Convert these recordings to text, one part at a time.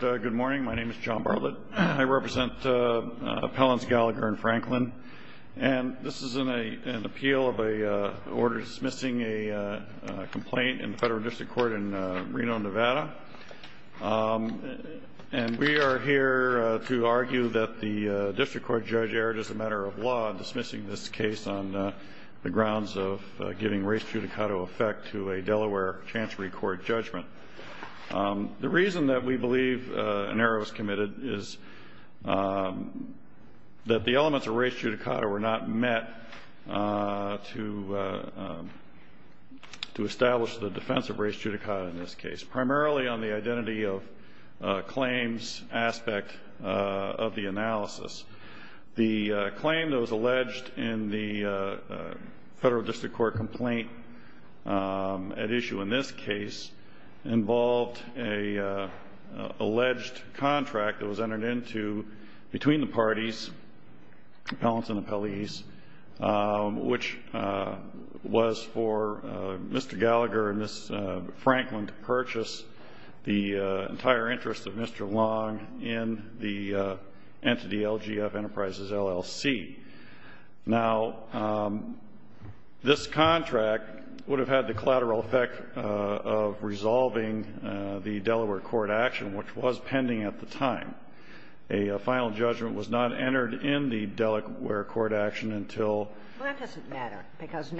Good morning. My name is John Bartlett. I represent Appellants Gallagher and Franklin. This is an appeal of an order dismissing a complaint in the Federal District Court in Reno, Nevada. We are here to argue that the District Court judge erred as a matter of law in dismissing this case on the grounds of giving race judicata effect to a Delaware Chancery Court judgment. The reason that we believe an error was committed is that the elements of race judicata were not met to establish the defense of race judicata in this case, primarily on the identity of claims aspect of the analysis. The claim that was alleged in the Federal District Court complaint at issue in this case involved an alleged contract that was entered into between the parties, appellants and appellees, which was for Mr. Gallagher and Ms. Franklin to purchase the entire interest of Mr. Long in the entity LGF Enterprises, LLC. Now, this contract would have had the collateral effect of resolving the Delaware court action, which was pending at the time. A final judgment was not entered in the Delaware court action until the Court of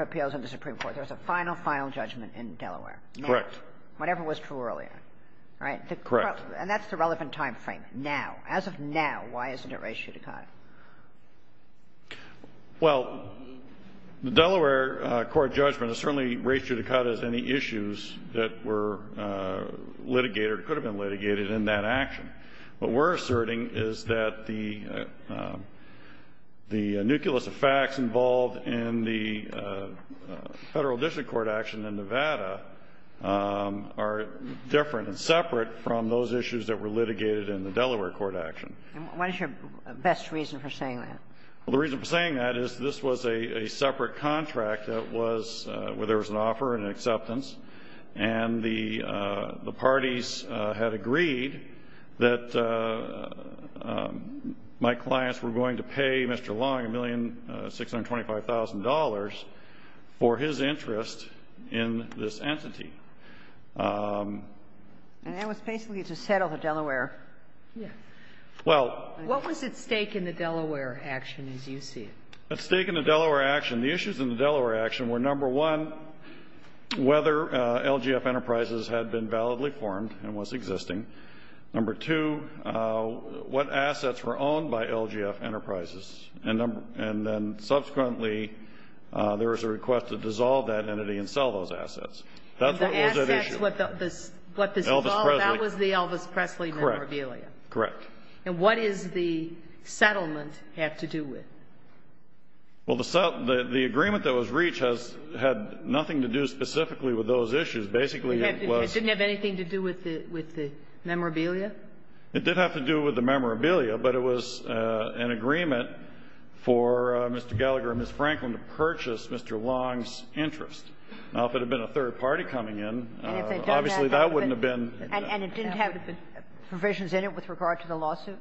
Appeals in the Supreme Court. There was a final, final judgment in Delaware. Correct. Whatever was true earlier. Right? Correct. And that's the relevant time frame, now. As of now, why isn't it race judicata? Well, the Delaware court judgment is certainly race judicata as any issues that were litigated or could have been litigated in that action. What we're asserting is that the nucleus of facts involved in the Federal District Court action in Nevada are different and separate from those issues that were litigated in the Delaware court action. And what is your best reason for saying that? Well, the reason for saying that is this was a separate contract that was where there was an offer and an acceptance, and the parties had agreed that my clients were going to pay Mr. Long $1,625,000 for his interest in this entity. And that was basically to settle the Delaware. Yes. Well. What was at stake in the Delaware action as you see it? At stake in the Delaware action, the issues in the Delaware action were, number one, whether LGF Enterprises had been validly formed and was existing. Number two, what assets were owned by LGF Enterprises. And then subsequently, there was a request to dissolve that entity and sell those assets. That's what was at issue. And the assets, what this involved, that was the Elvis Presley memorabilia. Correct. And what does the settlement have to do with? Well, the settlement, the agreement that was reached has had nothing to do specifically with those issues. Basically, it was. It didn't have anything to do with the memorabilia? It did have to do with the memorabilia, but it was an agreement for Mr. Gallagher and Ms. Franklin to purchase Mr. Long's interest. Now, if it had been a third party coming in, obviously that wouldn't have been. And it didn't have provisions in it with regard to the lawsuit?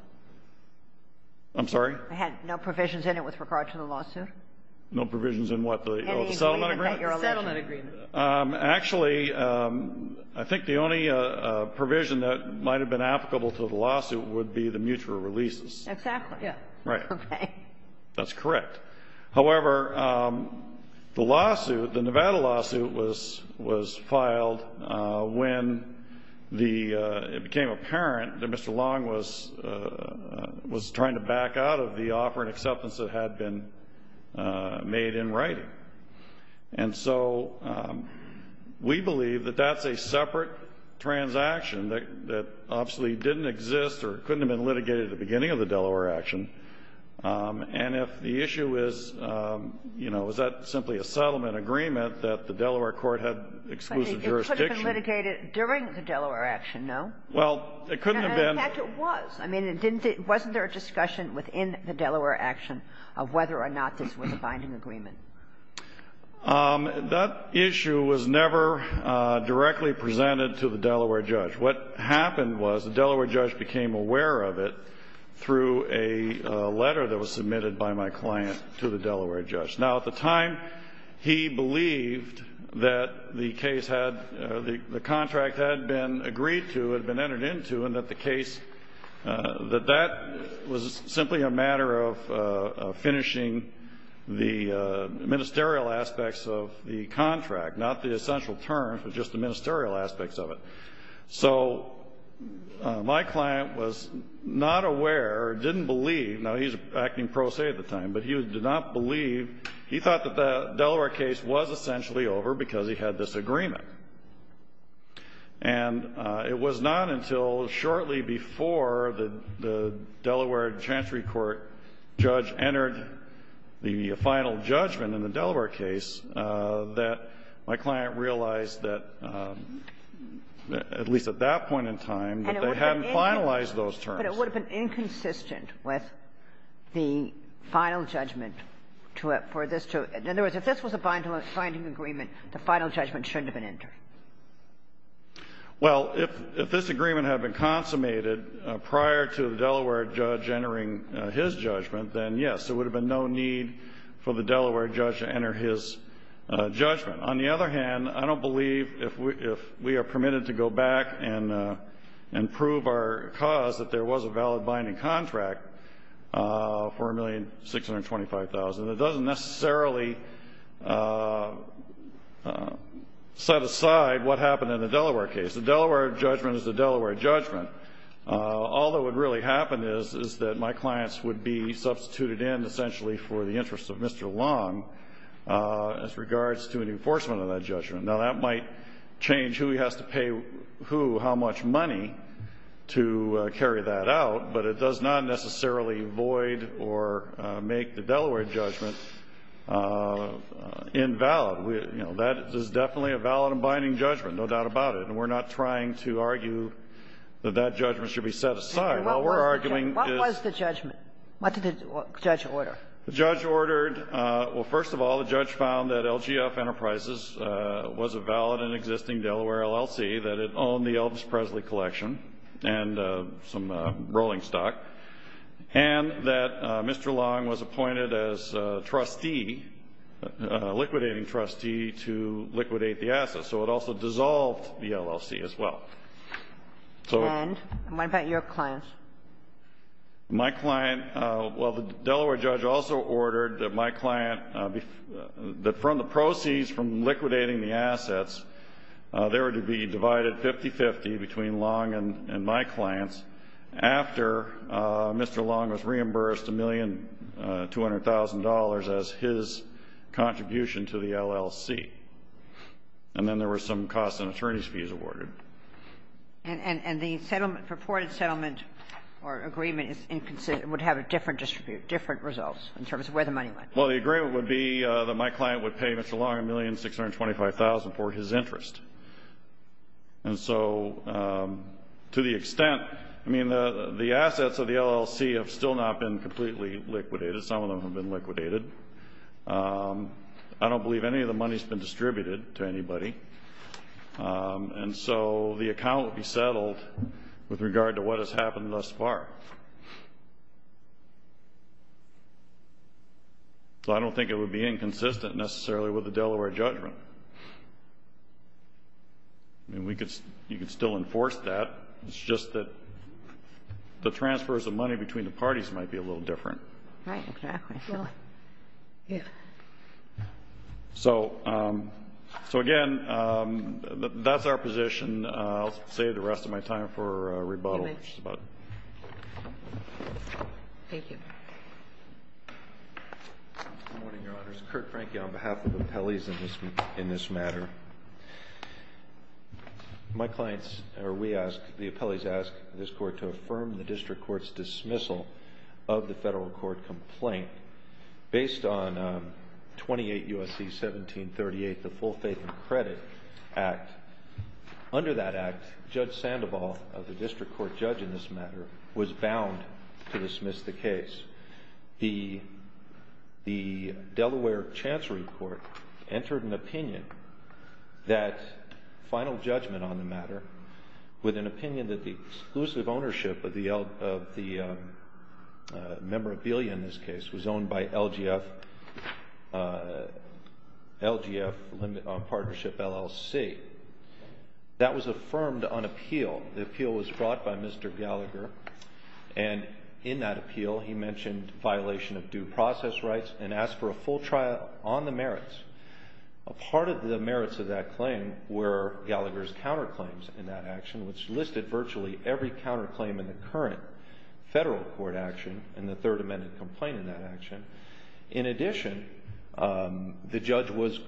I'm sorry? It had no provisions in it with regard to the lawsuit? No provisions in what? The settlement agreement? The settlement agreement. Actually, I think the only provision that might have been applicable to the lawsuit would be the mutual releases. Exactly. Right. That's correct. However, the Nevada lawsuit was filed when it became apparent that Mr. Long was trying to back out of the offer and acceptance that had been made in writing. And so we believe that that's a separate transaction that obviously didn't exist or couldn't have been litigated at the beginning of the Delaware action. And if the issue is, you know, is that simply a settlement agreement that the Delaware court had exclusive jurisdiction? It could have been litigated during the Delaware action, no? Well, it couldn't have been. In fact, it was. I mean, wasn't there a discussion within the Delaware action of whether or not this was a binding agreement? That issue was never directly presented to the Delaware judge. What happened was the Delaware judge became aware of it through a letter that was submitted by my client to the Delaware judge. Now, at the time, he believed that the case had the contract had been agreed to, had been entered into, and that the case, that that was simply a matter of finishing the ministerial aspects of the contract, not the essential terms, but just the ministerial aspects of it. So my client was not aware or didn't believe, now he was acting pro se at the time, but he did not believe, he thought that the Delaware case was essentially over because he had this agreement. And it was not until shortly before the Delaware Chancery Court judge entered the final judgment in the Delaware case that my client realized that, at least at that point in time, that they hadn't finalized those terms. But it would have been inconsistent with the final judgment for this to – in other words, if this was a binding agreement, the final judgment shouldn't have been entered. Well, if this agreement had been consummated prior to the Delaware judge entering his judgment, then, yes, there would have been no need for the Delaware judge to enter his judgment. On the other hand, I don't believe, if we are permitted to go back and prove our cause, that there was a valid binding contract for $1,625,000. It doesn't necessarily set aside what happened in the Delaware case. The Delaware judgment is the Delaware judgment. All that would really happen is that my clients would be substituted in, essentially, for the interests of Mr. Long as regards to an enforcement of that judgment. Now, that might change who has to pay who how much money to carry that out, but it does not necessarily void or make the Delaware judgment invalid. You know, that is definitely a valid and binding judgment, no doubt about it. And we're not trying to argue that that judgment should be set aside. What we're arguing is — What was the judgment? What did the judge order? The judge ordered — well, first of all, the judge found that LGF Enterprises was a valid and existing Delaware LLC, that it owned the Elvis Presley Collection and some rolling stock, and that Mr. Long was appointed as a trustee, a liquidating trustee to liquidate the assets. So it also dissolved the LLC as well. And what about your clients? My client — well, the Delaware judge also ordered that my client — that from the proceeds from liquidating the assets, they were to be divided 50-50 between Long and my clients after Mr. Long was reimbursed $1,200,000 as his contribution to the LLC. And then there were some costs and attorney's fees awarded. And the settlement — purported settlement or agreement would have a different distribution, different results in terms of where the money went. Well, the agreement would be that my client would pay Mr. Long $1,625,000 for his interest. And so to the extent — I mean, the assets of the LLC have still not been completely liquidated. Some of them have been liquidated. I don't believe any of the money has been distributed to anybody. And so the account would be settled with regard to what has happened thus far. So I don't think it would be inconsistent necessarily with the Delaware judgment. I mean, we could — you could still enforce that. It's just that the transfers of money between the parties might be a little different. Right. Exactly. So, again, that's our position. I'll save the rest of my time for rebuttal. Thank you. Good morning, Your Honors. Kurt Franke on behalf of the appellees in this matter. My clients — or we ask — the appellees ask this Court to affirm the district court's dismissal of the federal court complaint based on 28 U.S.C. 1738, the Full Faith and Credit Act. Under that act, Judge Sandoval, the district court judge in this matter, was bound to dismiss the case. The Delaware Chancery Court entered an opinion that — final judgment on the matter with an opinion that the exclusive ownership of the memorabilia in this case was owned by LGF Partnership, LLC. That was affirmed on appeal. The appeal was brought by Mr. Gallagher. And in that appeal, he mentioned violation of due process rights and asked for a full trial on the merits. A part of the merits of that claim were Gallagher's counterclaims in that action, which listed virtually every counterclaim in the current federal court action and the Third Amendment complaint in that action. In addition, the judge was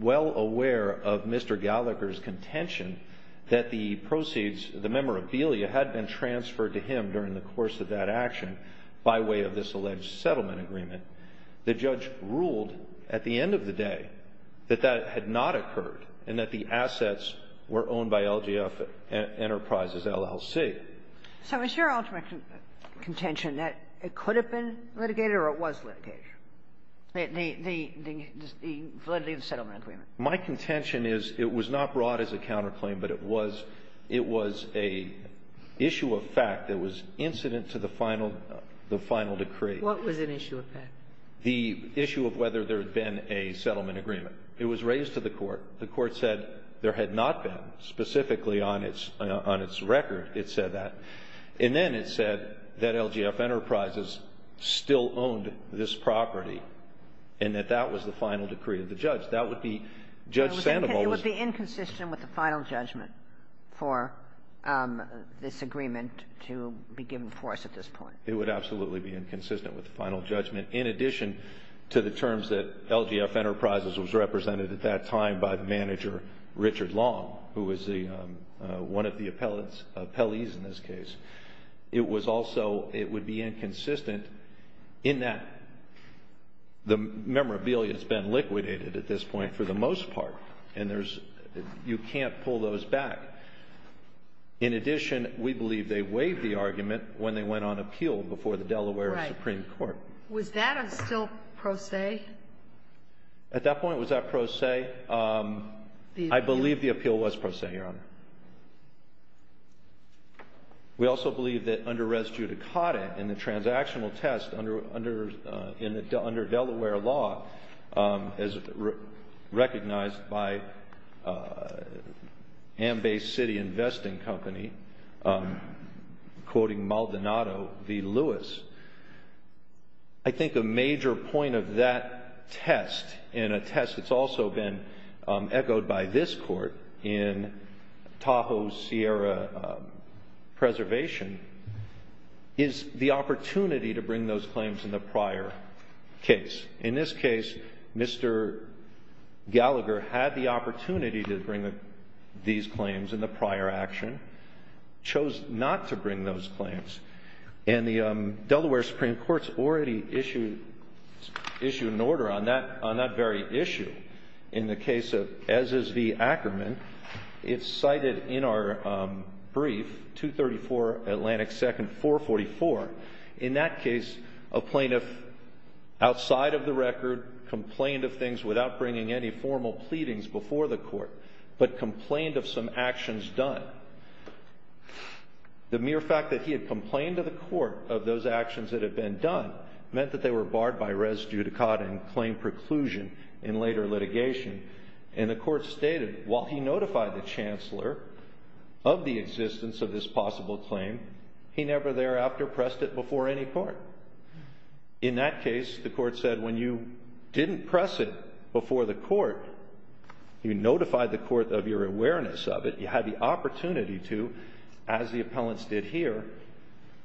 well aware of Mr. Gallagher's contention that the proceeds — the memorabilia had been transferred to him during the course of that action by way of this alleged settlement agreement. The judge ruled at the end of the day that that had not occurred and that the assets were owned by LGF Enterprises, LLC. So is your ultimate contention that it could have been litigated or it was litigated, the validity of the settlement agreement? My contention is it was not brought as a counterclaim, but it was — it was an issue of fact that was incident to the final — the final decree. What was an issue of fact? The issue of whether there had been a settlement agreement. It was raised to the Court. The Court said there had not been. Specifically on its — on its record, it said that. And then it said that LGF Enterprises still owned this property and that that was the final decree of the judge. That would be — Judge Sandoval was — It would be inconsistent with the final judgment for this agreement to be given for us at this point. It would absolutely be inconsistent with the final judgment, in addition to the terms that LGF Enterprises was represented at that time by the manager, Richard Long, who was the — one of the appellants — appellees in this case. It was also — it would be inconsistent in that the memorabilia has been liquidated at this point for the most part, and there's — you can't pull those back. In addition, we believe they waived the argument when they went on appeal before the Delaware Supreme Court. Right. Was that a still pro se? At that point, was that pro se? I believe the appeal was pro se, Your Honor. We also believe that under res judicata, in the transactional test, under Delaware law, as recognized by Ambay City Investing Company, quoting Maldonado v. Lewis, I think a major point of that test, and a test that's also been echoed by this Court in Tahoe Sierra Preservation, is the opportunity to bring those claims in the prior case. In this case, Mr. Gallagher had the opportunity to bring these claims in the prior action, chose not to bring those claims. And the Delaware Supreme Court's already issued an order on that very issue. In the case of S.S.V. Ackerman, it's cited in our brief, 234 Atlantic 2nd, 444. In that case, a plaintiff outside of the record complained of things without bringing any formal pleadings before the Court, but complained of some actions done. The mere fact that he had complained to the Court of those actions that had been done meant that they were barred by res judicata and claim preclusion in later litigation. And the Court stated, while he notified the Chancellor of the existence of this possible claim, he never thereafter pressed it before any court. In that case, the Court said, when you didn't press it before the court, you notified the court of your awareness of it, you had the opportunity to, as the appellants did here,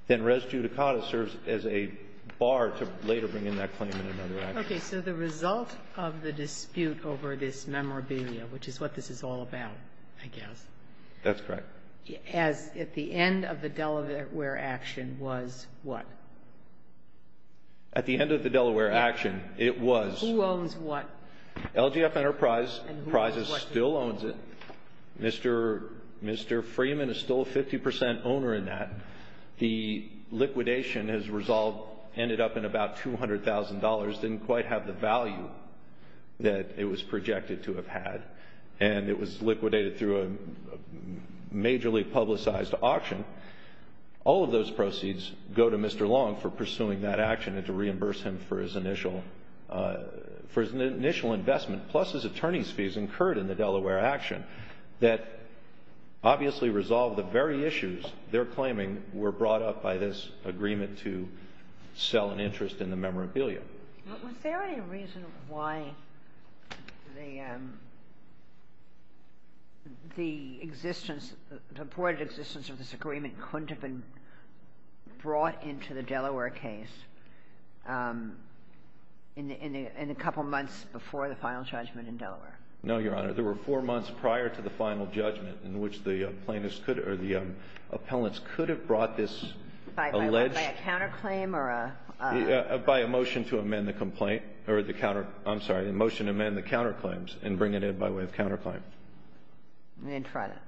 then res judicata serves as a bar to later bring in that claim in another action. Ginsburg. Okay. So the result of the dispute over this memorabilia, which is what this is all about, I guess. That's correct. As at the end of the Delaware action was what? At the end of the Delaware action, it was. Who owns what? LGF Enterprise still owns it. Mr. Freeman is still a 50 percent owner in that. The liquidation, as resolved, ended up in about $200,000. Didn't quite have the value that it was projected to have had. And it was liquidated through a majorly publicized auction. All of those proceeds go to Mr. Long for pursuing that action and to reimburse him for his initial investment, plus his attorney's fees incurred in the Delaware action that obviously resolved the very issues they're claiming were brought up by this agreement to sell an interest in the memorabilia. Was there any reason why the existence, the purported existence of this agreement couldn't have been brought into the Delaware case in a couple months before the final judgment in Delaware? No, Your Honor. There were four months prior to the final judgment in which the plaintiffs could or the appellants could have brought this alleged by a counterclaim or a... By a motion to amend the complaint or the counter, I'm sorry, a motion to amend the counterclaims and bring it in by way of counterclaim. They didn't try that.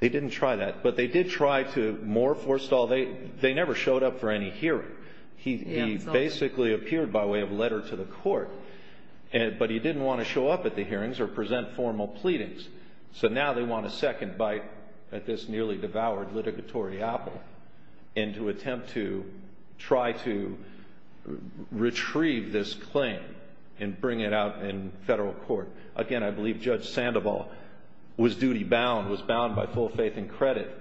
They didn't try that. But they did try to more forestall. They never showed up for any hearing. He basically appeared by way of letter to the court. But he didn't want to show up at the hearings or present formal pleadings. So now they want a second bite at this nearly devoured litigatory apple and to try to retrieve this claim and bring it out in Federal court. Again, I believe Judge Sandoval was duty bound, was bound by full faith and credit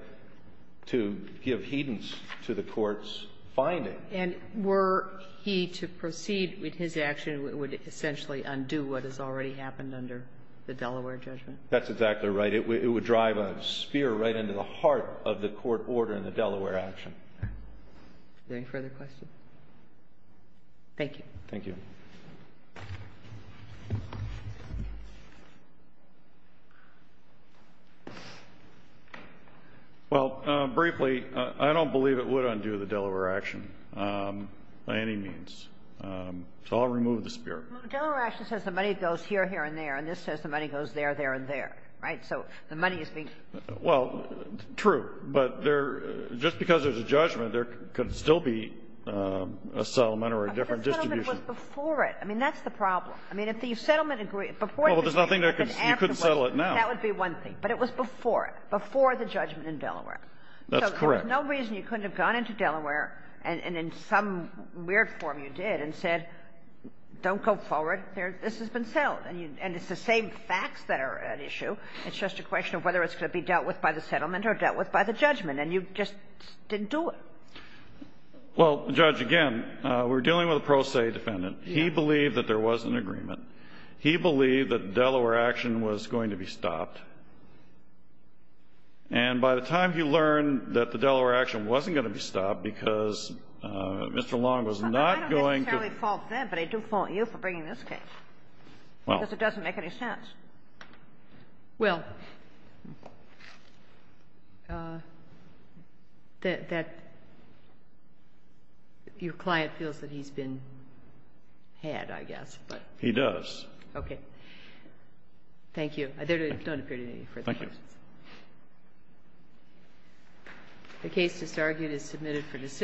to give heedance to the court's finding. And were he to proceed with his action, it would essentially undo what has already happened under the Delaware judgment? That's exactly right. It would drive a spear right into the heart of the court order in the Delaware action. Any further questions? Thank you. Thank you. Well, briefly, I don't believe it would undo the Delaware action by any means. So I'll remove the spear. Well, the Delaware action says the money goes here, here, and there, and this says the money goes there, there, and there. Right? So the money is being used. Well, true. But there — just because there's a judgment, there could still be a settlement or a different distribution. But the settlement was before it. I mean, that's the problem. I mean, if the settlement agreement — Well, there's nothing there. You couldn't settle it now. That would be one thing. But it was before it, before the judgment in Delaware. That's correct. So there was no reason you couldn't have gone into Delaware, and in some weird form you did, and said, don't go forward. This has been settled. And it's the same facts that are at issue. It's just a question of whether it's going to be dealt with by the settlement or dealt with by the judgment. And you just didn't do it. Well, Judge, again, we're dealing with a pro se defendant. He believed that there was an agreement. He believed that the Delaware action was going to be stopped. And by the time he learned that the Delaware action wasn't going to be stopped because Mr. Long was not going to — Well, I don't necessarily fault them, but I do fault you for bringing this case. Well. Because it doesn't make any sense. Well, that your client feels that he's been had, I guess. He does. Okay. Thank you. There don't appear to be any further questions. Thank you.